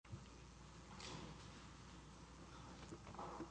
L.P. v. Thomas Perez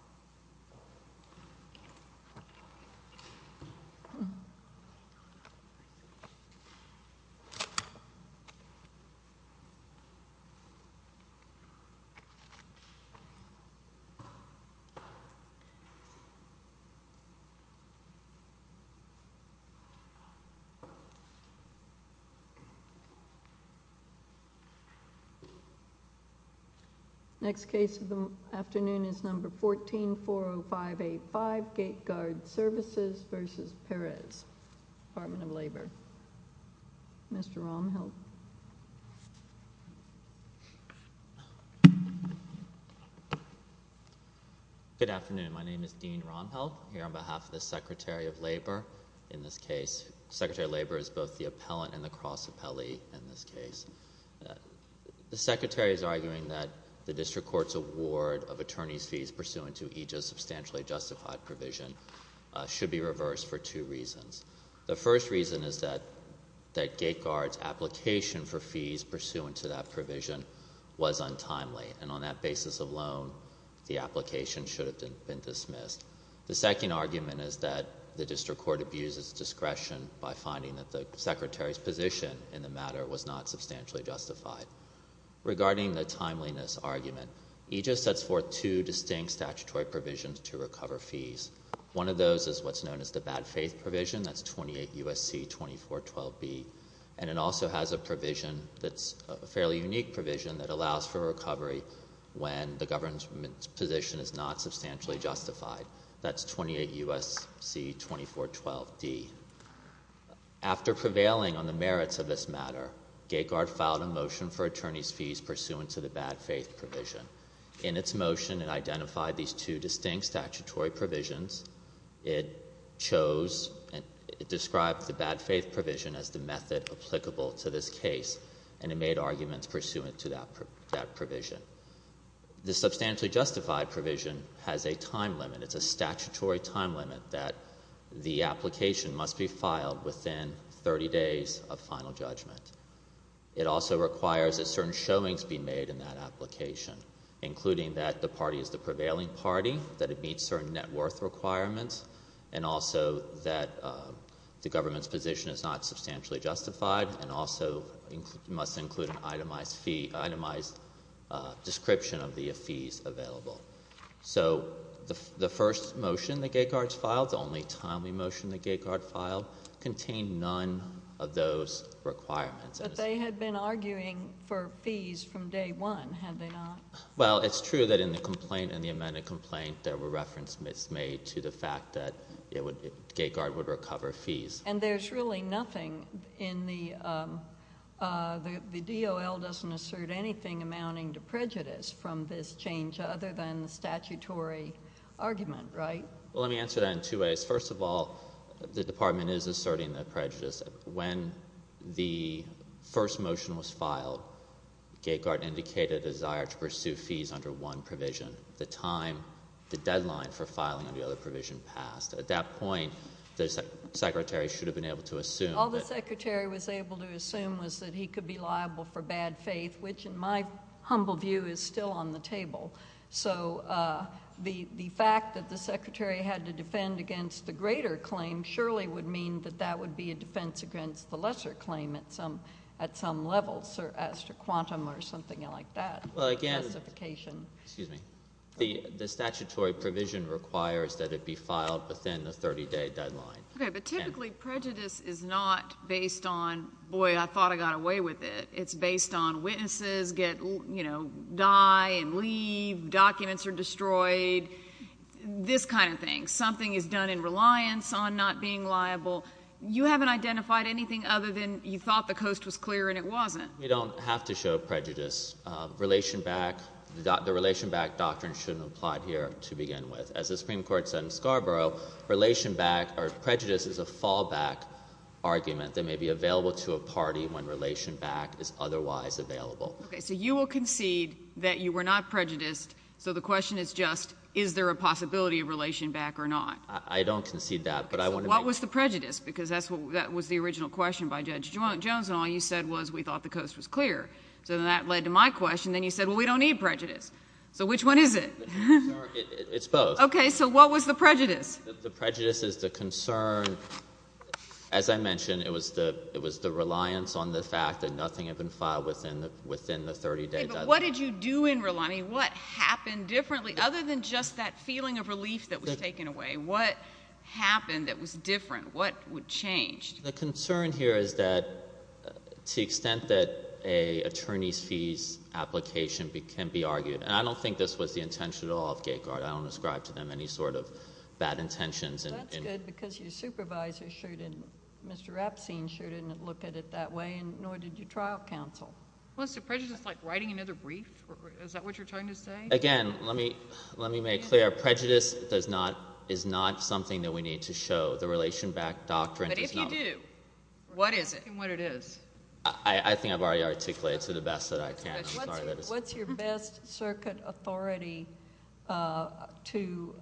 Next case of the afternoon is No. 14-405A5, Gate Guard Services v. Perez, Department of Labor. Mr. Romhelf. Good afternoon. My name is Dean Romhelf, here on behalf of the Secretary of Labor. In this case, Secretary of Labor is both the appellant and the cross-appellee in this case. The Secretary is arguing that the District Court's award of attorney's fees pursuant to EJA's substantially justified provision should be reversed for two reasons. The first reason is that Gate Guard's application for fees pursuant to that provision was untimely, and on that basis alone, the application should have been dismissed. The second argument is that the District Court abuses discretion by finding that the Secretary's position in the matter was not substantially justified. Regarding the timeliness argument, EJA sets forth two distinct statutory provisions to recover fees. One of those is what's known as the bad faith provision, that's 28 U.S.C. 2412B, and it also has a provision that's a fairly unique provision that allows for recovery when the government's position is not substantially justified. That's 28 U.S.C. 2412D. After prevailing on the merits of this matter, Gate Guard filed a motion for attorney's fees pursuant to the bad faith provision. In its motion, it identified these two distinct statutory provisions. It chose, it described the bad faith provision as the method applicable to this case, and it made arguments pursuant to that provision. The substantially justified provision has a time limit. It's a statutory time limit that the application must be filed within 30 days of final judgment. It also requires that certain showings be made in that application, including that the party is the prevailing party, that it meets certain net worth requirements, and also that the government's position is not substantially justified, and also must include an itemized fee, itemized description of the fees available. So the first motion that Gate Guard filed, the only timely motion that Gate Guard filed, contained none of those requirements. But they had been arguing for fees from day one, had they not? Well, it's true that in the complaint, in the amended complaint, there were reference made to the fact that Gate Guard would recover fees. And there's really nothing in the, the DOL doesn't assert anything amounting to prejudice from this change, other than the statutory argument, right? Well, let me answer that in two ways. First of all, the Department is asserting that prejudice. When the first motion was filed, Gate Guard indicated a desire to pursue fees under one provision. The time, the deadline for filing under the other provision passed. At that point, the Secretary should have been able to assume that— All the Secretary was able to assume was that he could be liable for bad faith, which, in my humble view, is still on the table. So the, the fact that the Secretary had to defend against the greater claim surely would mean that that would be a defense against the lesser claim at some, at some level, as to quantum or something like that. Well, again— Classification. Excuse me. The, the statutory provision requires that it be filed within the 30-day deadline. Okay, but typically prejudice is not based on, boy, I thought I got away with it. It's based on witnesses get, you know, die and leave, documents are destroyed, this kind of thing. Something is done in reliance on not being liable. You haven't identified anything other than you thought the coast was clear and it wasn't. We don't have to show prejudice. Relation back, the relation back doctrine shouldn't apply here to begin with. As the Supreme Court said in Scarborough, relation back or prejudice is a fallback argument that may be available to a party when relation back is otherwise available. Okay, so you will concede that you were not prejudiced, so the question is just, is there a possibility of relation back or not? I, I don't concede that, but I want to make— What was the prejudice? Because that's what, that was the original question by Judge Jones and all you said was we thought the coast was clear. So then that led to my question. Then you said, well, we don't need prejudice. So which one is it? It's both. Okay, so what was the prejudice? The prejudice is the concern, as I mentioned, it was the, it was the reliance on the fact that nothing had been filed within the, within the 30-day deadline. Okay, but what did you do in reliance? I mean, what happened differently other than just that feeling of relief that was taken away? What happened that was different? What would change? The concern here is that to the extent that a attorney's fees application can be argued, and I don't think this was the intention at all of GateGuard. I don't ascribe to them any sort of bad intentions. Well, that's good because your supervisor sure didn't, Mr. Rapsine sure didn't look at it that way and nor did your trial counsel. Well, is the prejudice like writing another brief? Is that what you're trying to say? Again, let me, let me make clear. Prejudice does not, is not something that we need to show. The relation back doctrine does not— What does it do? What is it? I think I've already articulated to the best that I can. I'm sorry. What's your best circuit authority to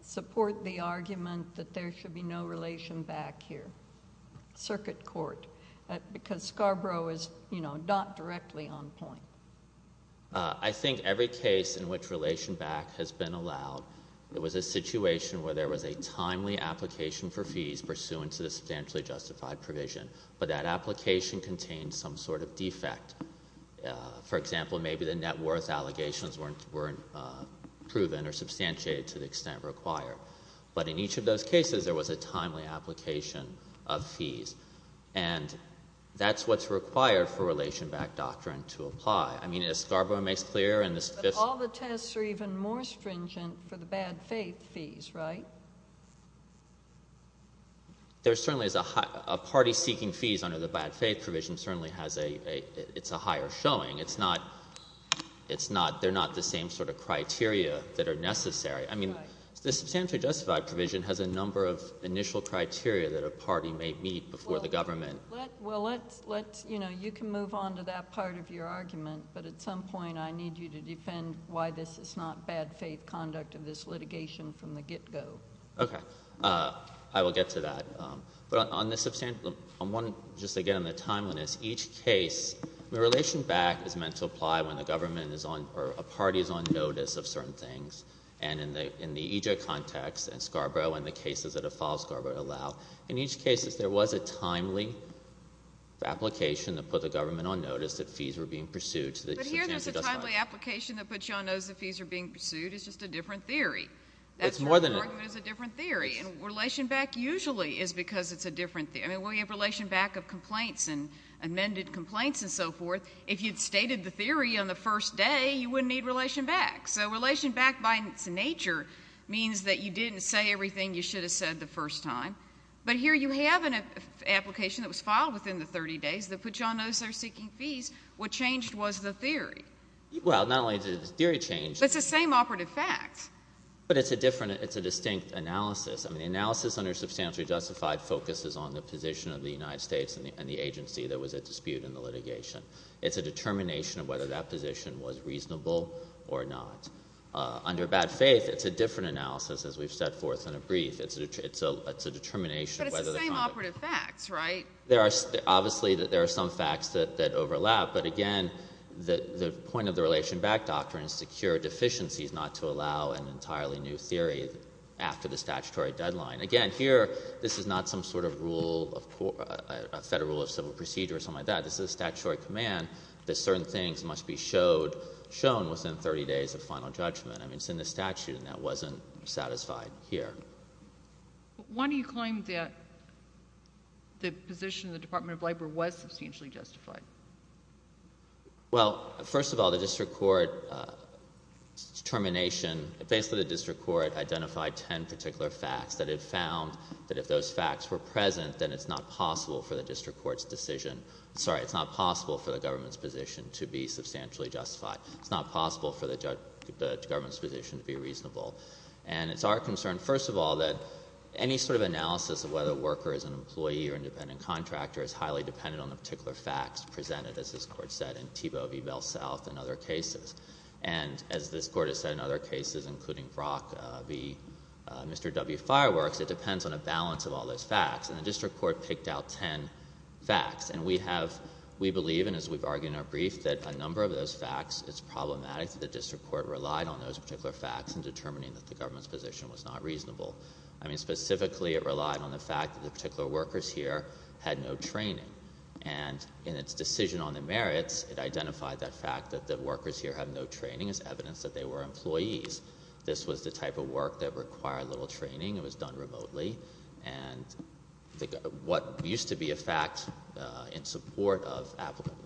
support the argument that there should be no relation back here? Circuit court. Because Scarborough is, you know, not directly on point. I think every case in which relation back has been allowed, there was a situation where there was a timely application for fees pursuant to the substantially justified provision, but that application contained some sort of defect. For example, maybe the net worth allegations weren't, weren't proven or substantiated to the extent required. But in each of those cases, there was a timely application of fees. And that's what's required for relation back doctrine to apply. I mean, as Scarborough makes clear— All the tests are even more stringent for the bad faith fees, right? There certainly is a high, a party seeking fees under the bad faith provision certainly has a, it's a higher showing. It's not, it's not, they're not the same sort of criteria that are necessary. I mean, the substantially justified provision has a number of initial criteria that a party may meet before the government. Well, let's, let's, you know, you can move on to that part of your argument, but at some point, I need you to defend why this is not bad faith conduct of this litigation from the get-go. Okay. I will get to that. But on the, on one, just again on the timeliness, each case, the relation back is meant to apply when the government is on or a party is on notice of certain things. And in the, in the EJ context and Scarborough and the cases that have followed Scarborough allow, in each case, there was a timely application that put the government on notice that fees were being pursued. But here there's a timely application that puts you on notice that fees are being pursued. It's just a different theory. It's more than that. That's why the argument is a different theory. And relation back usually is because it's a different theory. I mean, when you have relation back of complaints and amended complaints and so forth, if you'd stated the theory on the first day, you wouldn't need relation back. So relation back by its nature means that you didn't say everything you should have said the first time. But here you have an application that was filed within the 30 days that put you on notice they're seeking fees. What changed was the theory. Well, not only did the theory change. But it's the same operative facts. But it's a different, it's a distinct analysis. I mean, analysis under substantially justified focuses on the position of the United States and the agency that was at dispute in the litigation. It's a determination of whether that position was reasonable or not. Under bad faith, it's a different analysis as we've set forth in a brief. It's a, it's a, it's a determination. But it's the same operative facts, right? There are, obviously there are some facts that overlap. But again, the point of the relation back doctrine is to cure deficiencies, not to allow an entirely new theory after the statutory deadline. Again, here, this is not some sort of rule of, a federal rule of civil procedure or something like that. This is a statutory command that certain things must be showed, shown within 30 days of final judgment. I mean, it's in the statute and that wasn't satisfied here. Why do you claim that the position of the Department of Labor was substantially justified? Well, first of all, the district court determination, basically the district court identified ten particular facts that it found that if those facts were present, then it's not possible for the district court's decision, sorry, it's not possible for the government's position to be substantially justified. It's not possible for the judge, the government's position to be reasonable. And it's our concern, first of all, that any sort of analysis of whether a worker is an employee or independent contractor is highly dependent on the particular facts presented, as this court said, in Thiebaud v. Bell South and other cases. And as this court has said in other cases, including Brock v. Mr. W. Fireworks, it depends on a balance of all those facts. And the district court picked out ten facts. And we have, we believe, and as we've argued in our brief, that a number of those facts, it's problematic that the government's position was not reasonable. I mean, specifically, it relied on the fact that the particular workers here had no training. And in its decision on the merits, it identified that fact that the workers here had no training as evidence that they were employees. This was the type of work that required little training. It was done remotely. And what used to be a fact in support of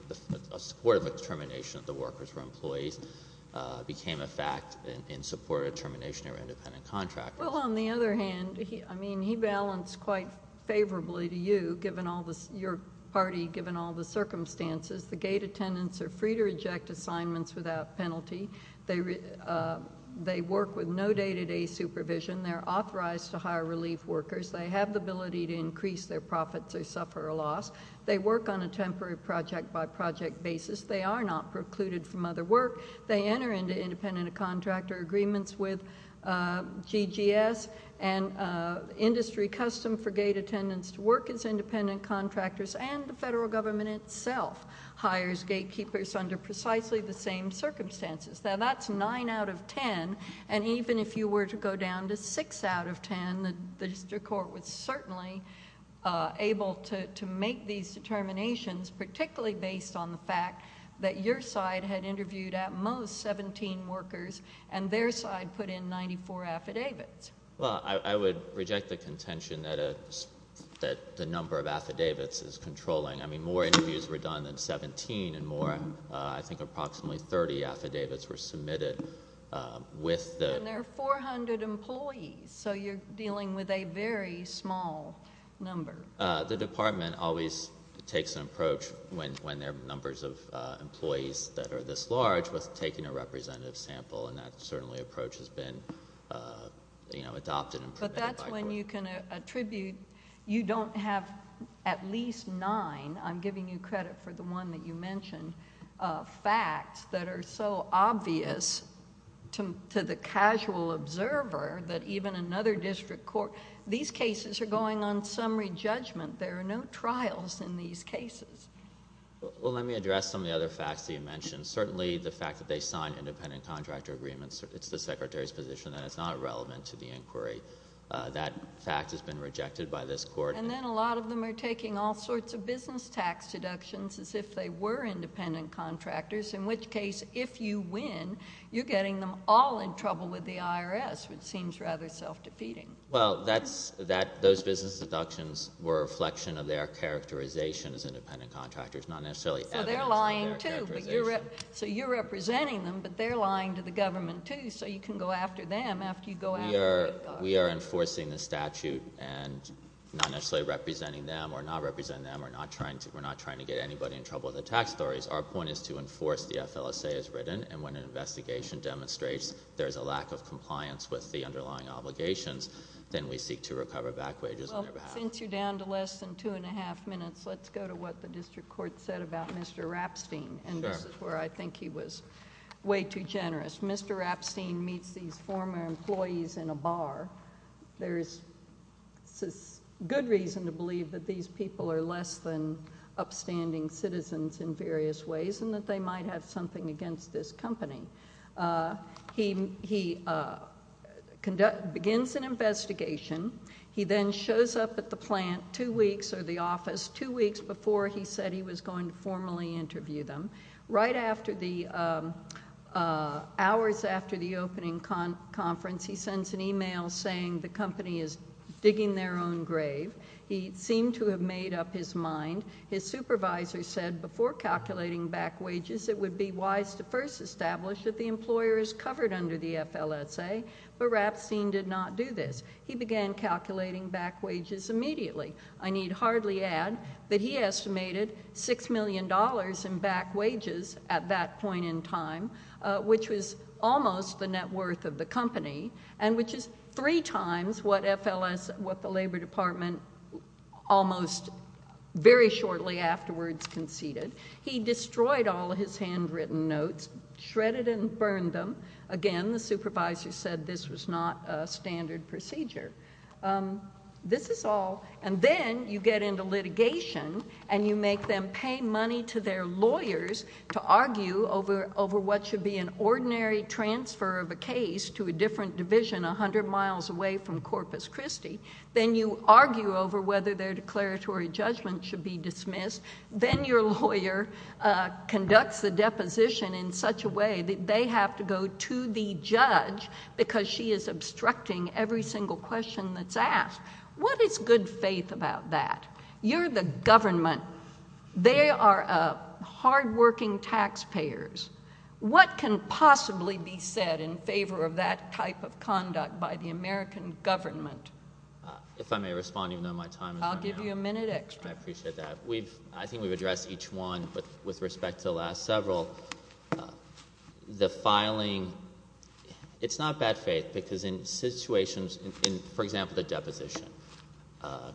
determination that the workers were employees became a fact in support of determination of independent contractors. Well, on the other hand, I mean, he balanced quite favorably to you, given all the, your party, given all the circumstances. The gate attendants are free to reject assignments without penalty. They work with no day-to-day supervision. They're authorized to hire relief workers. They have the ability to increase their profits or suffer a loss. They work on a temporary project-by-project basis. They are not precluded from other work. They enter into independent contractor agreements with GGS and industry custom for gate attendants to work as independent contractors, and the federal government itself hires gatekeepers under precisely the same circumstances. Now, that's nine out of ten, and even if you were to go down to six out of ten, the district court was certainly able to make these determinations, particularly based on the fact that your side had interviewed at most 17 workers and their side put in 94 affidavits. Well, I would reject the contention that the number of affidavits is controlling. I mean, more interviews were done than 17 and more. I think approximately 30 affidavits were submitted with the... And there are 400 employees, so you're dealing with a very small number. The department always takes an approach when there are numbers of employees that are this large with taking a representative sample, and that certainly approach has been adopted and... But that's when you can attribute, you don't have at least nine, I'm giving you credit for the one that you mentioned, facts that are so obvious to the casual observer that even another district court... These cases are going on summary judgment. There are no trials in these cases. Well, let me address some of the other facts that you mentioned. Certainly, the fact that they signed independent contractor agreements, it's the secretary's position that it's not relevant to the inquiry. That fact has been rejected by this court. And then a lot of them are taking all sorts of business tax deductions as if they were independent contractors, in which case, if you win, you're getting them all in trouble with the IRS, which seems rather self-defeating. Well, that's... Those business deductions were a reflection of their characterization as independent contractors, not necessarily evidence of their characterization. So they're lying, too, but you're... So you're representing them, but they're lying to the government, too, so you can go after them after you go after Whitgar. We are enforcing the statute and not necessarily representing them or not representing them or not trying to get anybody in trouble with the tax stories. Our point is to enforce the underlying obligations, then we seek to recover back wages on their behalf. Well, since you're down to less than two and a half minutes, let's go to what the district court said about Mr. Rapstein, and this is where I think he was way too generous. Mr. Rapstein meets these former employees in a bar. There is good reason to believe that these people are less than upstanding citizens in various ways and that they might have something against this company. He begins an investigation. He then shows up at the plant two weeks or the office two weeks before he said he was going to formally interview them. Right after the... hours after the opening conference, he sends an email saying the company is digging their own grave. He seemed to have made up his mind. His supervisor said before calculating back wages, it would be wise to first establish that the employer is covered under the FLSA, but Rapstein did not do this. He began calculating back wages immediately. I need hardly add that he estimated $6 million in back wages at that point in time, which was almost the net worth of the company and which is three times what the company conceded. He destroyed all of his handwritten notes, shredded and burned them. Again, the supervisor said this was not a standard procedure. This is all. Then you get into litigation and you make them pay money to their lawyers to argue over what should be an ordinary transfer of a case to a different division a hundred miles away from Corpus Christi. Then you argue over whether their declaratory judgment should be dismissed. Then your lawyer conducts the deposition in such a way that they have to go to the judge because she is obstructing every single question that's asked. What is good faith about that? You're the government. They are hardworking taxpayers. What can possibly be said in favor of that type of conduct by the American government? If I may respond, even though my time is running out. I'll give you a minute extra. I appreciate that. I think we've addressed each one, but with respect to the last several, the filing, it's not bad faith because in situations in, for example, the deposition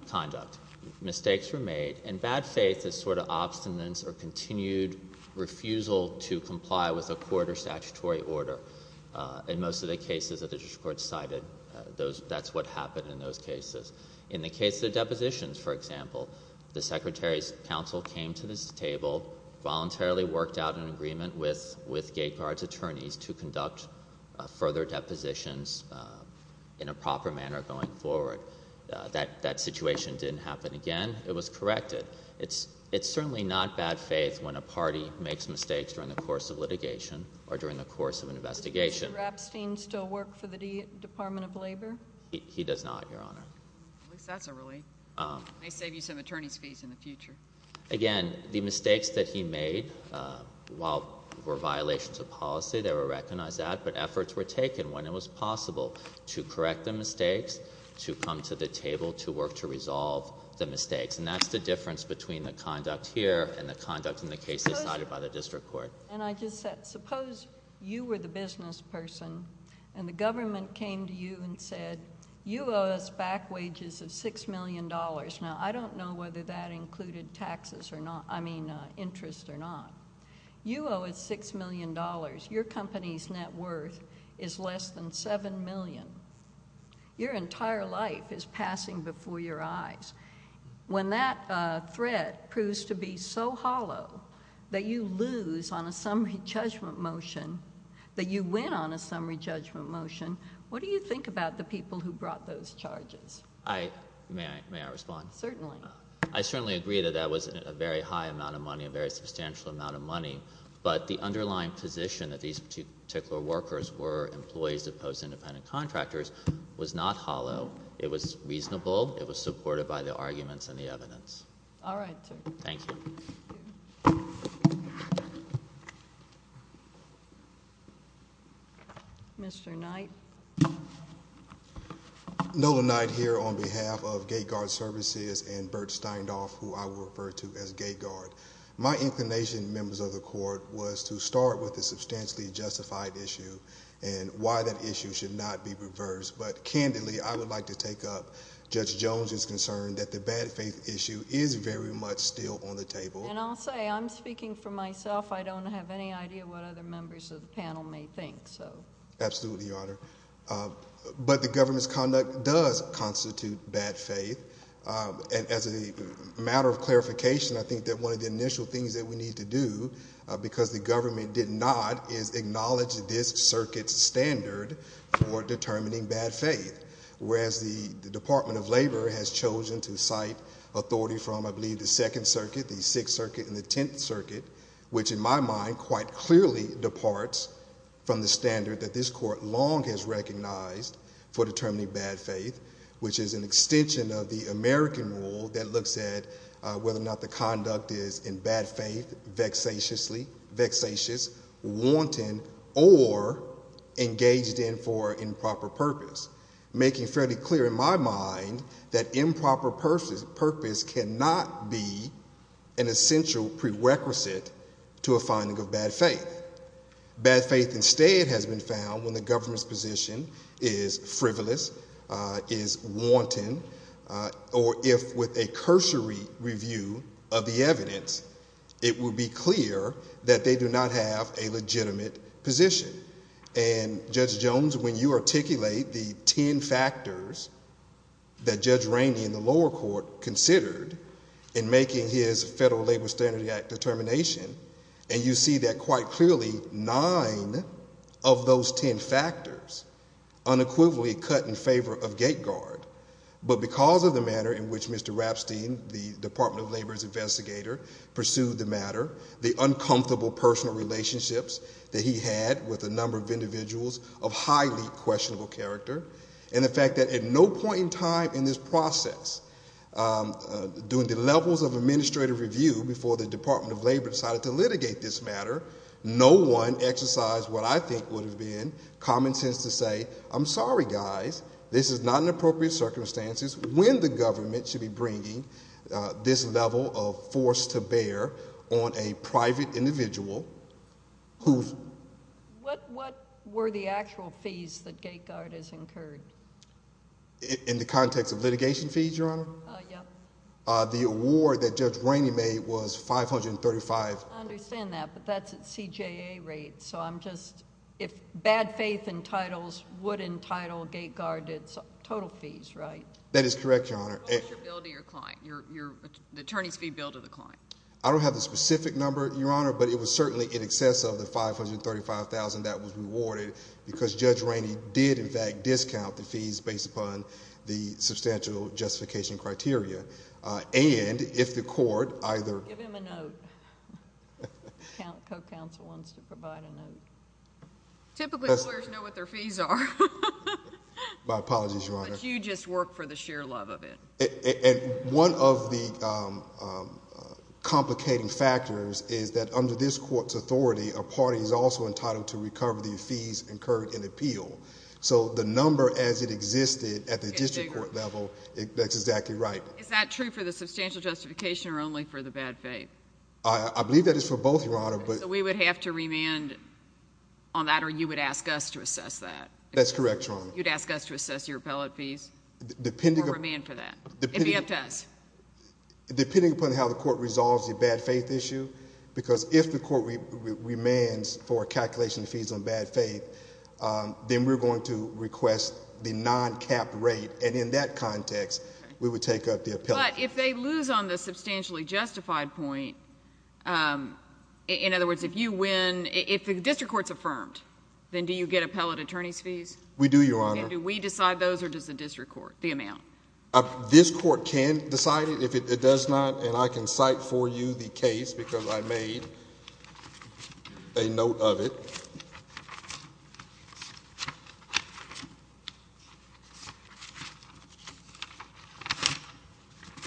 conduct, mistakes were made. Bad faith is sort of obstinance or continued refusal to comply with a court or statutory order. In most of the cases that the district court has decided, that's what happened in those cases. In the case of the depositions, for example, the secretary's counsel came to this table, voluntarily worked out an agreement with Gate Guard's attorneys to conduct further depositions in a proper manner going forward. That situation didn't happen again. It was corrected. It's certainly not bad faith when a party makes mistakes during the course of litigation or during the course of an investigation. Does Mr. Rapstein still work for the Department of Labor? He does not, Your Honor. At least that's a relief. May save you some attorney's fees in the future. Again, the mistakes that he made, while were violations of policy, they were recognized that, but efforts were taken when it was possible to correct the mistakes, to come to the table to work to resolve the mistakes. That's the difference between the conduct here and the conduct in the cases decided by the district court. And I just said, suppose you were the business person and the government came to you and said, you owe us back wages of $6 million. Now, I don't know whether that included taxes or not, I mean, interest or not. You owe us $6 million. Your company's net worth is less than $7 million. Your entire life is passing before your eyes. When that threat proves to be so hollow that you lose on a summary judgment motion, that you win on a summary judgment motion, what do you think about the people who brought those charges? May I respond? Certainly. I certainly agree that that was a very high amount of money, a very substantial amount of money, but the underlying position that these particular workers were employees opposed to independent contractors was not hollow. It was reasonable. It was supported by the arguments and the evidence. All right, sir. Thank you. Mr. Knight. Nolan Knight here on behalf of Gate Guard Services and Bert Steindorf, who I will refer to as Gate Guard. My inclination, members of the court, was to start with the substantially justified issue and why that issue should not be reversed. But candidly, I would like to take up Judge Jones's concern that the bad faith issue is very much still on the table. And I'll say, I'm speaking for myself. I don't have any idea what other members of the panel may think. Absolutely, Your Honor. But the government's conduct does constitute bad faith. As a matter of clarification, I think that one of the initial things that we need to do, because the government did not, is acknowledge this circuit's standard for determining bad faith. Whereas the Department of Labor has chosen to cite authority from, I believe, the Second Circuit, the Sixth Circuit, and the Tenth Circuit, which, in my mind, quite clearly departs from the standard that this court long has recognized for determining bad faith, which is an extension of the American rule that looks at whether or not the conduct is vexatiously, vexatious, wanton, or engaged in for improper purpose, making fairly clear in my mind that improper purpose cannot be an essential prerequisite to a finding of bad faith. Bad faith, instead, has been found when the government's position is frivolous, is frivolous, it will be clear that they do not have a legitimate position. Judge Jones, when you articulate the ten factors that Judge Rainey in the lower court considered in making his Federal Labor Standards Act determination, and you see that quite clearly nine of those ten factors unequivocally cut in favor of Gateguard, but because of the manner in which Mr. Rapstein, the Department of Labor's investigator, pursued the matter, the uncomfortable personal relationships that he had with a number of individuals of highly questionable character, and the fact that at no point in time in this process, during the levels of administrative review before the Department of Labor decided to litigate this matter, no one exercised what I think would have been common sense to say, I'm sorry, guys, this is not in appropriate circumstances, when the government should be bringing this level of force to bear on a private individual who... What were the actual fees that Gateguard has incurred? In the context of litigation fees, Your Honor? Yes. The award that Judge Rainey made was 535... I understand that, but that's at CJA rates, so I'm just... if bad faith entitles, would entitle Gateguard its total fees, right? That is correct, Your Honor. What was your bill to your client, the attorney's fee bill to the client? I don't have the specific number, Your Honor, but it was certainly in excess of the 535,000 that was rewarded because Judge Rainey did, in fact, discount the fees based upon the substantial justification criteria, and if the court either... Give him a note. The co-counsel wants to provide a note. Typically lawyers know what their fees are. My apologies, Your Honor. But you just work for the sheer love of it. One of the complicating factors is that under this court's authority, a party is also entitled to recover the fees incurred in appeal, so the number as it existed at the district court level, that's exactly right. Is that true for the substantial justification or only for the bad faith? We would have to remand on that, or you would ask us to assess that? That's correct, Your Honor. You'd ask us to assess your appellate fees or remand for that? It would be up to us. Depending upon how the court resolves the bad faith issue, because if the court remands for a calculation of fees on bad faith, then we're going to request the non-capped rate, But if they lose on the substantially justified point, in other words, if you win, if the district court's affirmed, then do you get appellate attorney's fees? We do, Your Honor. And do we decide those or does the district court, the amount? This court can decide it. If it does not, and I can cite for you the case because I made a note of it.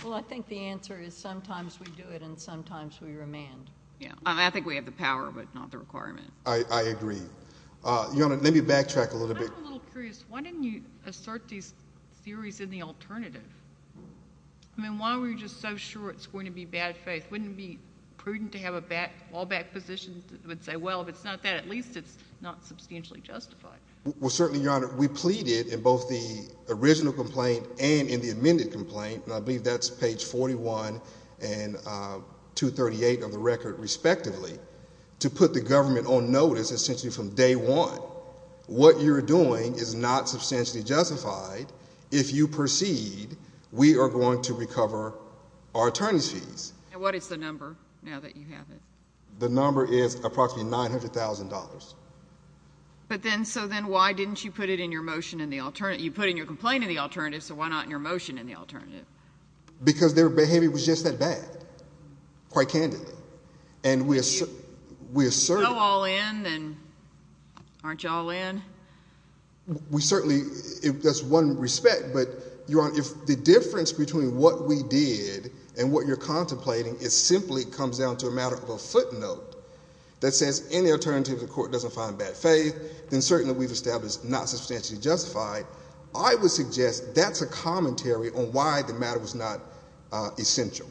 Well, I think the answer is sometimes we do it and sometimes we remand. I think we have the power, but not the requirement. I agree. Your Honor, let me backtrack a little bit. I'm a little curious. Why didn't you assert these theories in the alternative? I mean, why were you just so sure it's going to be bad faith? Wouldn't it be prudent to have a fallback position that would say, well, if it's not that, at least it's not substantially justified? Well, certainly, Your Honor, we pleaded in both the original complaint and in the amended complaint, and I believe that's page 41 and 238 of the record, respectively, to put the government on notice essentially from day one. Well, what you're doing is not substantially justified. If you proceed, we are going to recover our attorneys' fees. And what is the number now that you have it? The number is approximately $900,000. So then why didn't you put it in your motion in the alternative? You put in your complaint in the alternative, so why not in your motion in the alternative? Because their behavior was just that bad, quite candidly. If you're so all in, then aren't you all in? We certainly – that's one respect, but, Your Honor, if the difference between what we did and what you're contemplating simply comes down to a matter of a footnote that says, any alternative to the court doesn't find bad faith, then certainly we've established not substantially justified. I would suggest that's a commentary on why the matter was not essential.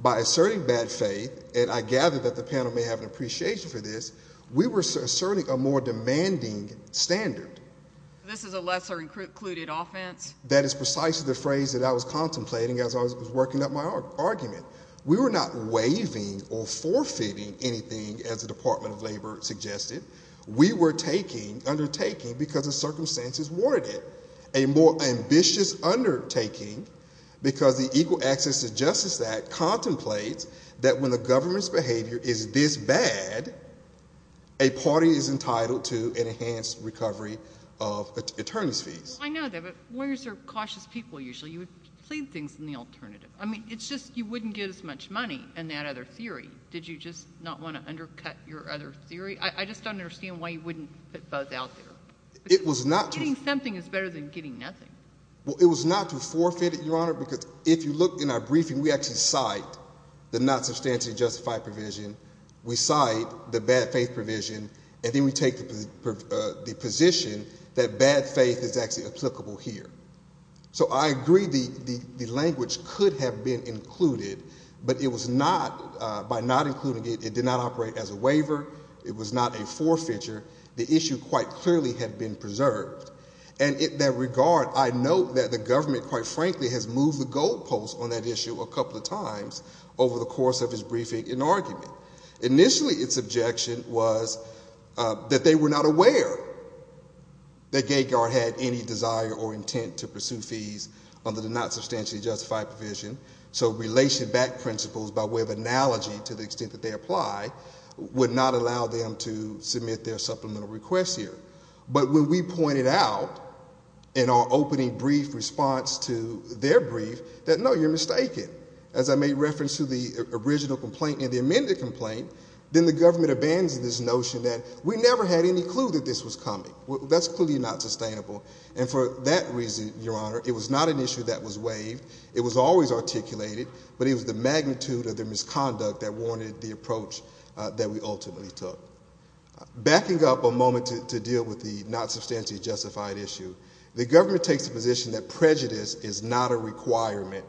By asserting bad faith, and I gather that the panel may have an appreciation for this, we were asserting a more demanding standard. This is a lesser-included offense? That is precisely the phrase that I was contemplating as I was working up my argument. We were not waiving or forfeiting anything, as the Department of Labor suggested. We were undertaking, because the circumstances warranted it, a more ambitious undertaking because the Equal Access to Justice Act contemplates that when the government's behavior is this bad, a party is entitled to an enhanced recovery of attorneys' fees. Well, I know that, but lawyers are cautious people, usually. You would plead things in the alternative. I mean, it's just you wouldn't get as much money in that other theory. Did you just not want to undercut your other theory? I just don't understand why you wouldn't put both out there. Getting something is better than getting nothing. Well, it was not to forfeit it, Your Honor, because if you look in our briefing, we actually cite the not substantially justified provision, we cite the bad faith provision, and then we take the position that bad faith is actually applicable here. So I agree the language could have been included, but it was not. By not including it, it did not operate as a waiver. It was not a forfeiture. The issue quite clearly had been preserved. And in that regard, I note that the government, quite frankly, has moved the goalposts on that issue a couple of times over the course of its briefing and argument. Initially its objection was that they were not aware that GateGuard had any desire or intent to pursue fees under the not substantially justified provision, so relation back principles by way of analogy to the extent that they apply would not allow them to submit their supplemental requests here. But when we pointed out in our opening brief response to their brief that, no, you're mistaken. As I made reference to the original complaint and the amended complaint, then the government abandoned this notion that we never had any clue that this was coming. That's clearly not sustainable. And for that reason, Your Honor, it was not an issue that was waived. It was always articulated, but it was the magnitude of the misconduct that warranted the approach that we ultimately took. Backing up a moment to deal with the not substantially justified issue, the government takes the position that prejudice is not a requirement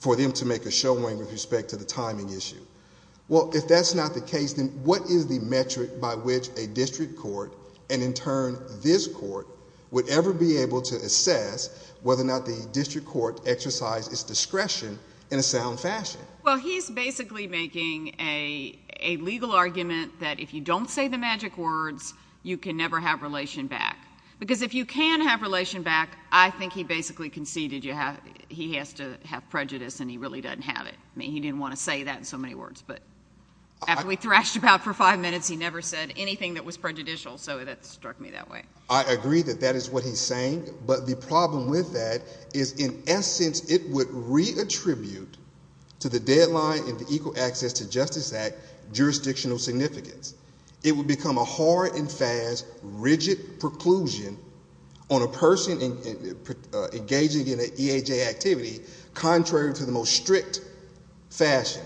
for them to make a showing with respect to the timing issue. Well, if that's not the case, then what is the metric by which a district court and in turn this court would ever be able to assess whether or not the district court exercised its discretion in a sound fashion? Well, he's basically making a legal argument that if you don't say the magic words, you can never have relation back. Because if you can have relation back, I think he basically conceded he has to have prejudice and he really doesn't have it. I mean, he didn't want to say that in so many words. But after we thrashed about for five minutes, he never said anything that was prejudicial, so that struck me that way. I agree that that is what he's saying. But the problem with that is in essence it would re-attribute to the deadline in the Equal Access to Justice Act jurisdictional significance. It would become a hard and fast, rigid preclusion on a person engaging in an EHA activity contrary to the most strict fashion.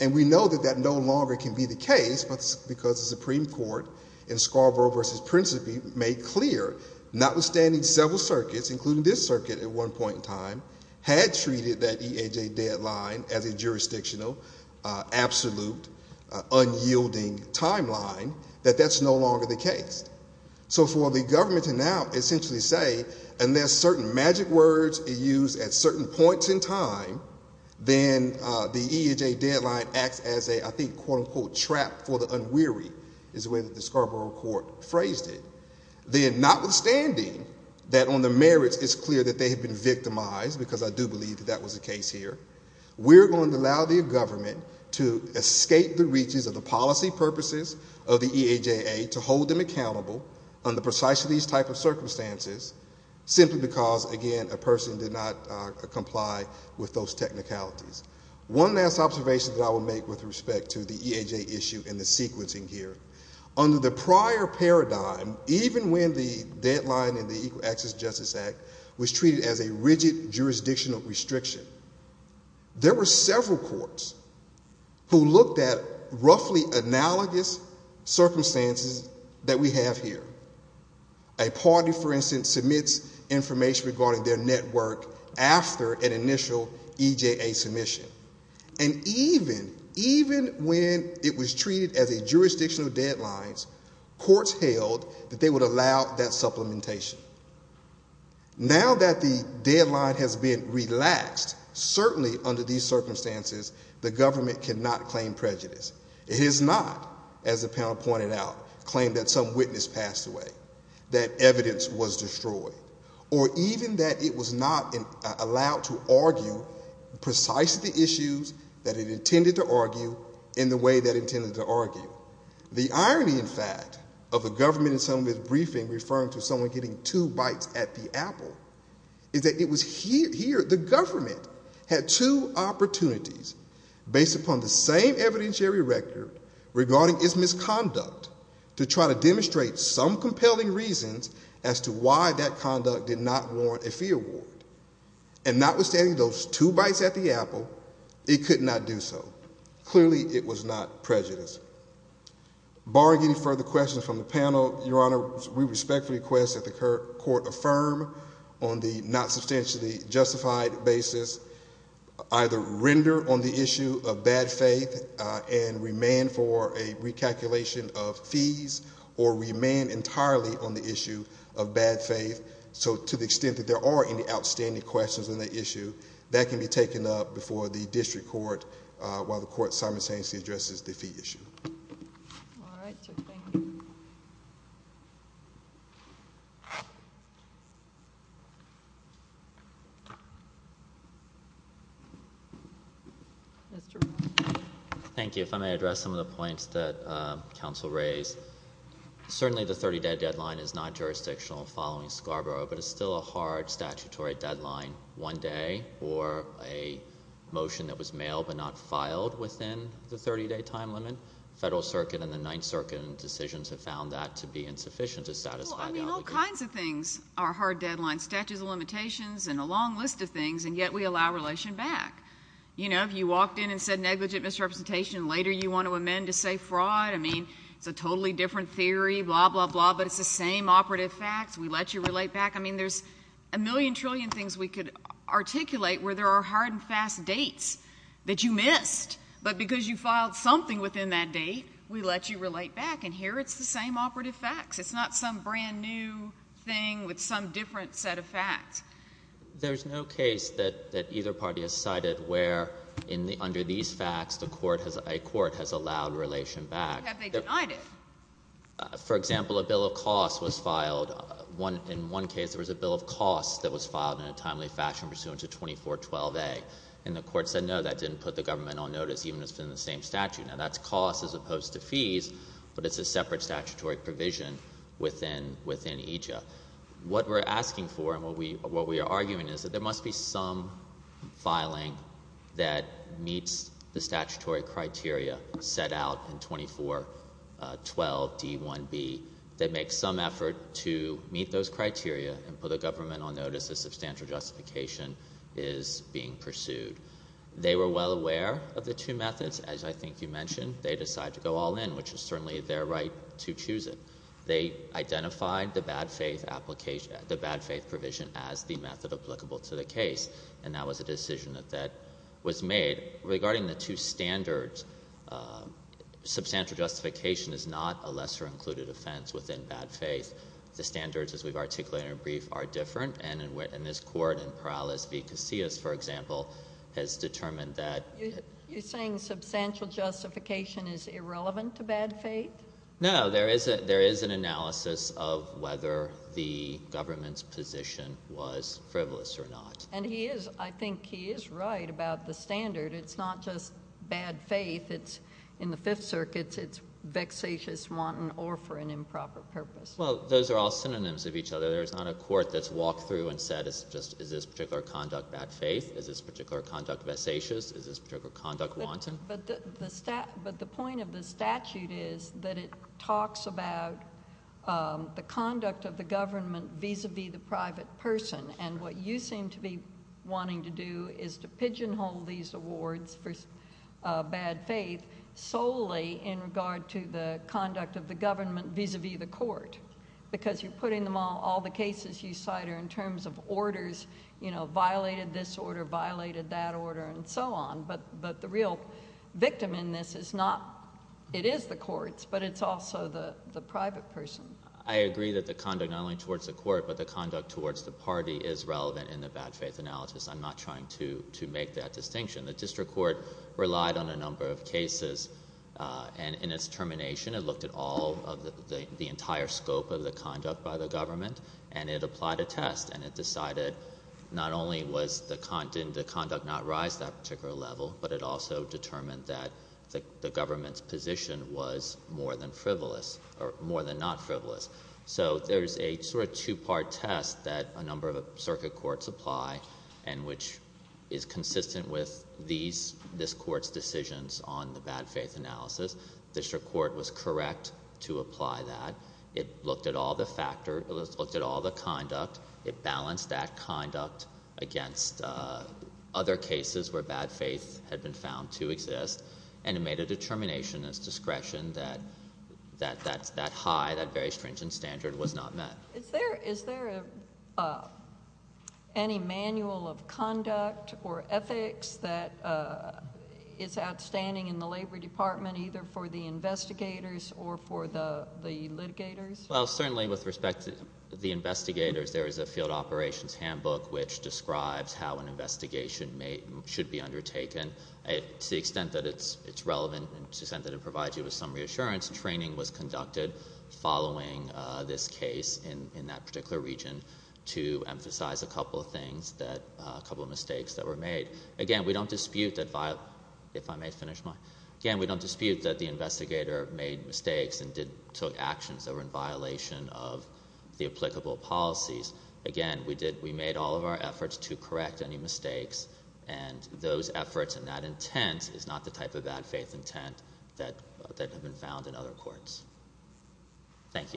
And we know that that no longer can be the case because the Supreme Court in Scarborough v. Principe made clear, notwithstanding several circuits, including this circuit at one point in time, had treated that EHA deadline as a jurisdictional, absolute, unyielding timeline, that that's no longer the case. So for the government to now essentially say unless certain magic words are used at certain points in time, then the EHA deadline acts as a, I think, quote, unquote, trap for the unwary is the way that the Scarborough court phrased it. Then notwithstanding that on the merits it's clear that they have been victimized, because I do believe that that was the case here, we're going to allow the government to escape the reaches of the policy purposes of the EHA to hold them accountable under precisely these type of circumstances simply because, again, a person did not comply with those technicalities. One last observation that I will make with respect to the EHA issue and the sequencing here. Under the prior paradigm, even when the deadline in the Equal Access Justice Act was treated as a rigid jurisdictional restriction, there were several courts who looked at roughly analogous circumstances that we have here. A party, for instance, submits information regarding their network after an initial EJA submission. And even when it was treated as a jurisdictional deadline, courts held that they would allow that supplementation. Now that the deadline has been relaxed, certainly under these circumstances, the government cannot claim prejudice. It has not, as the panel pointed out, claimed that some witness passed away, that evidence was destroyed, or even that it was not allowed to argue precisely the issues that it intended to argue in the way that it intended to argue. The irony, in fact, of the government in some of its briefing referring to someone getting two bites at the apple, is that it was here, the government, had two opportunities based upon the same evidentiary record regarding its misconduct to try to demonstrate some compelling reasons as to why that conduct did not warrant a fee award. And notwithstanding those two bites at the apple, it could not do so. Clearly, it was not prejudice. Barring any further questions from the panel, Your Honor, we respectfully request that the court affirm on the not substantially justified basis either render on the issue of bad faith and remain for a recalculation of fees or remain entirely on the issue of bad faith. So to the extent that there are any outstanding questions on the issue, that can be taken up before the district court while the court simultaneously addresses the fee issue. All right. Mr. Brown. Thank you. If I may address some of the points that counsel raised. Certainly the 30-day deadline is not jurisdictional following Scarborough, but it's still a hard statutory deadline. One day or a motion that was mailed but not filed within the 30-day time limit. Federal Circuit and the Ninth Circuit decisions have found that to be insufficient to satisfy the obligation. Well, I mean, all kinds of things are hard deadlines. Statutes of limitations and a long list of things, and yet we allow relation back. You know, if you walked in and said negligent misrepresentation, later you want to amend to say fraud. I mean, it's a totally different theory, blah, blah, blah, but it's the same operative facts. We let you relate back. I mean, there's a million trillion things we could articulate where there are hard and fast dates that you missed, but because you filed something within that date, we let you relate back, and here it's the same operative facts. It's not some brand-new thing with some different set of facts. There's no case that either party has cited where under these facts a court has allowed relation back. Have they denied it? For example, a bill of costs was filed. In one case there was a bill of costs that was filed in a timely fashion pursuant to 2412A, and the court said no, that didn't put the government on notice even if it's in the same statute. Now, that's costs as opposed to fees, but it's a separate statutory provision within EJIA. What we're asking for and what we are arguing is that there must be some filing that meets the statutory criteria set out in 2412D1B that makes some effort to meet those criteria and put the government on notice if substantial justification is being pursued. They were well aware of the two methods, as I think you mentioned. They decided to go all in, which is certainly their right to choose it. They identified the bad faith application, the bad faith provision as the method applicable to the case, and that was a decision that was made. Regarding the two standards, substantial justification is not a lesser included offense within bad faith. The standards, as we've articulated in our brief, are different. And in this court, in Perales v. Casillas, for example, has determined that— You're saying substantial justification is irrelevant to bad faith? No, there is an analysis of whether the government's position was frivolous or not. And he is—I think he is right about the standard. It's not just bad faith. In the Fifth Circuit, it's vexatious wanton or for an improper purpose. Well, those are all synonyms of each other. There's not a court that's walked through and said, is this particular conduct bad faith? Is this particular conduct vexatious? Is this particular conduct wanton? But the point of the statute is that it talks about the conduct of the government vis-a-vis the private person. And what you seem to be wanting to do is to pigeonhole these awards for bad faith solely in regard to the conduct of the government vis-a-vis the court because you're putting them all—all the cases you cite are in terms of orders, you know, violated this order, violated that order, and so on. But the real victim in this is not—it is the courts, but it's also the private person. I agree that the conduct not only towards the court, but the conduct towards the party is relevant in the bad faith analysis. I'm not trying to make that distinction. The district court relied on a number of cases. And in its termination, it looked at all of the entire scope of the conduct by the government, and it applied a test, and it decided not only did the conduct not rise to that particular level, but it also determined that the government's position was more than frivolous or more than not frivolous. So there's a sort of two-part test that a number of circuit courts apply and which is consistent with this court's decisions on the bad faith analysis. The district court was correct to apply that. It looked at all the conduct. It balanced that conduct against other cases where bad faith had been found to exist, and it made a determination as discretion that that high, that very stringent standard was not met. Is there any manual of conduct or ethics that is outstanding in the Labor Department, either for the investigators or for the litigators? Well, certainly with respect to the investigators, there is a field operations handbook which describes how an investigation should be undertaken. To the extent that it's relevant and to the extent that it provides you with some reassurance, training was conducted following this case in that particular region to emphasize a couple of things, a couple of mistakes that were made. Again, we don't dispute that the investigator made mistakes and took actions that were in violation of the applicable policies. Again, we made all of our efforts to correct any mistakes, and those efforts and that intent is not the type of bad faith intent that had been found in other courts. Thank you. Thank you.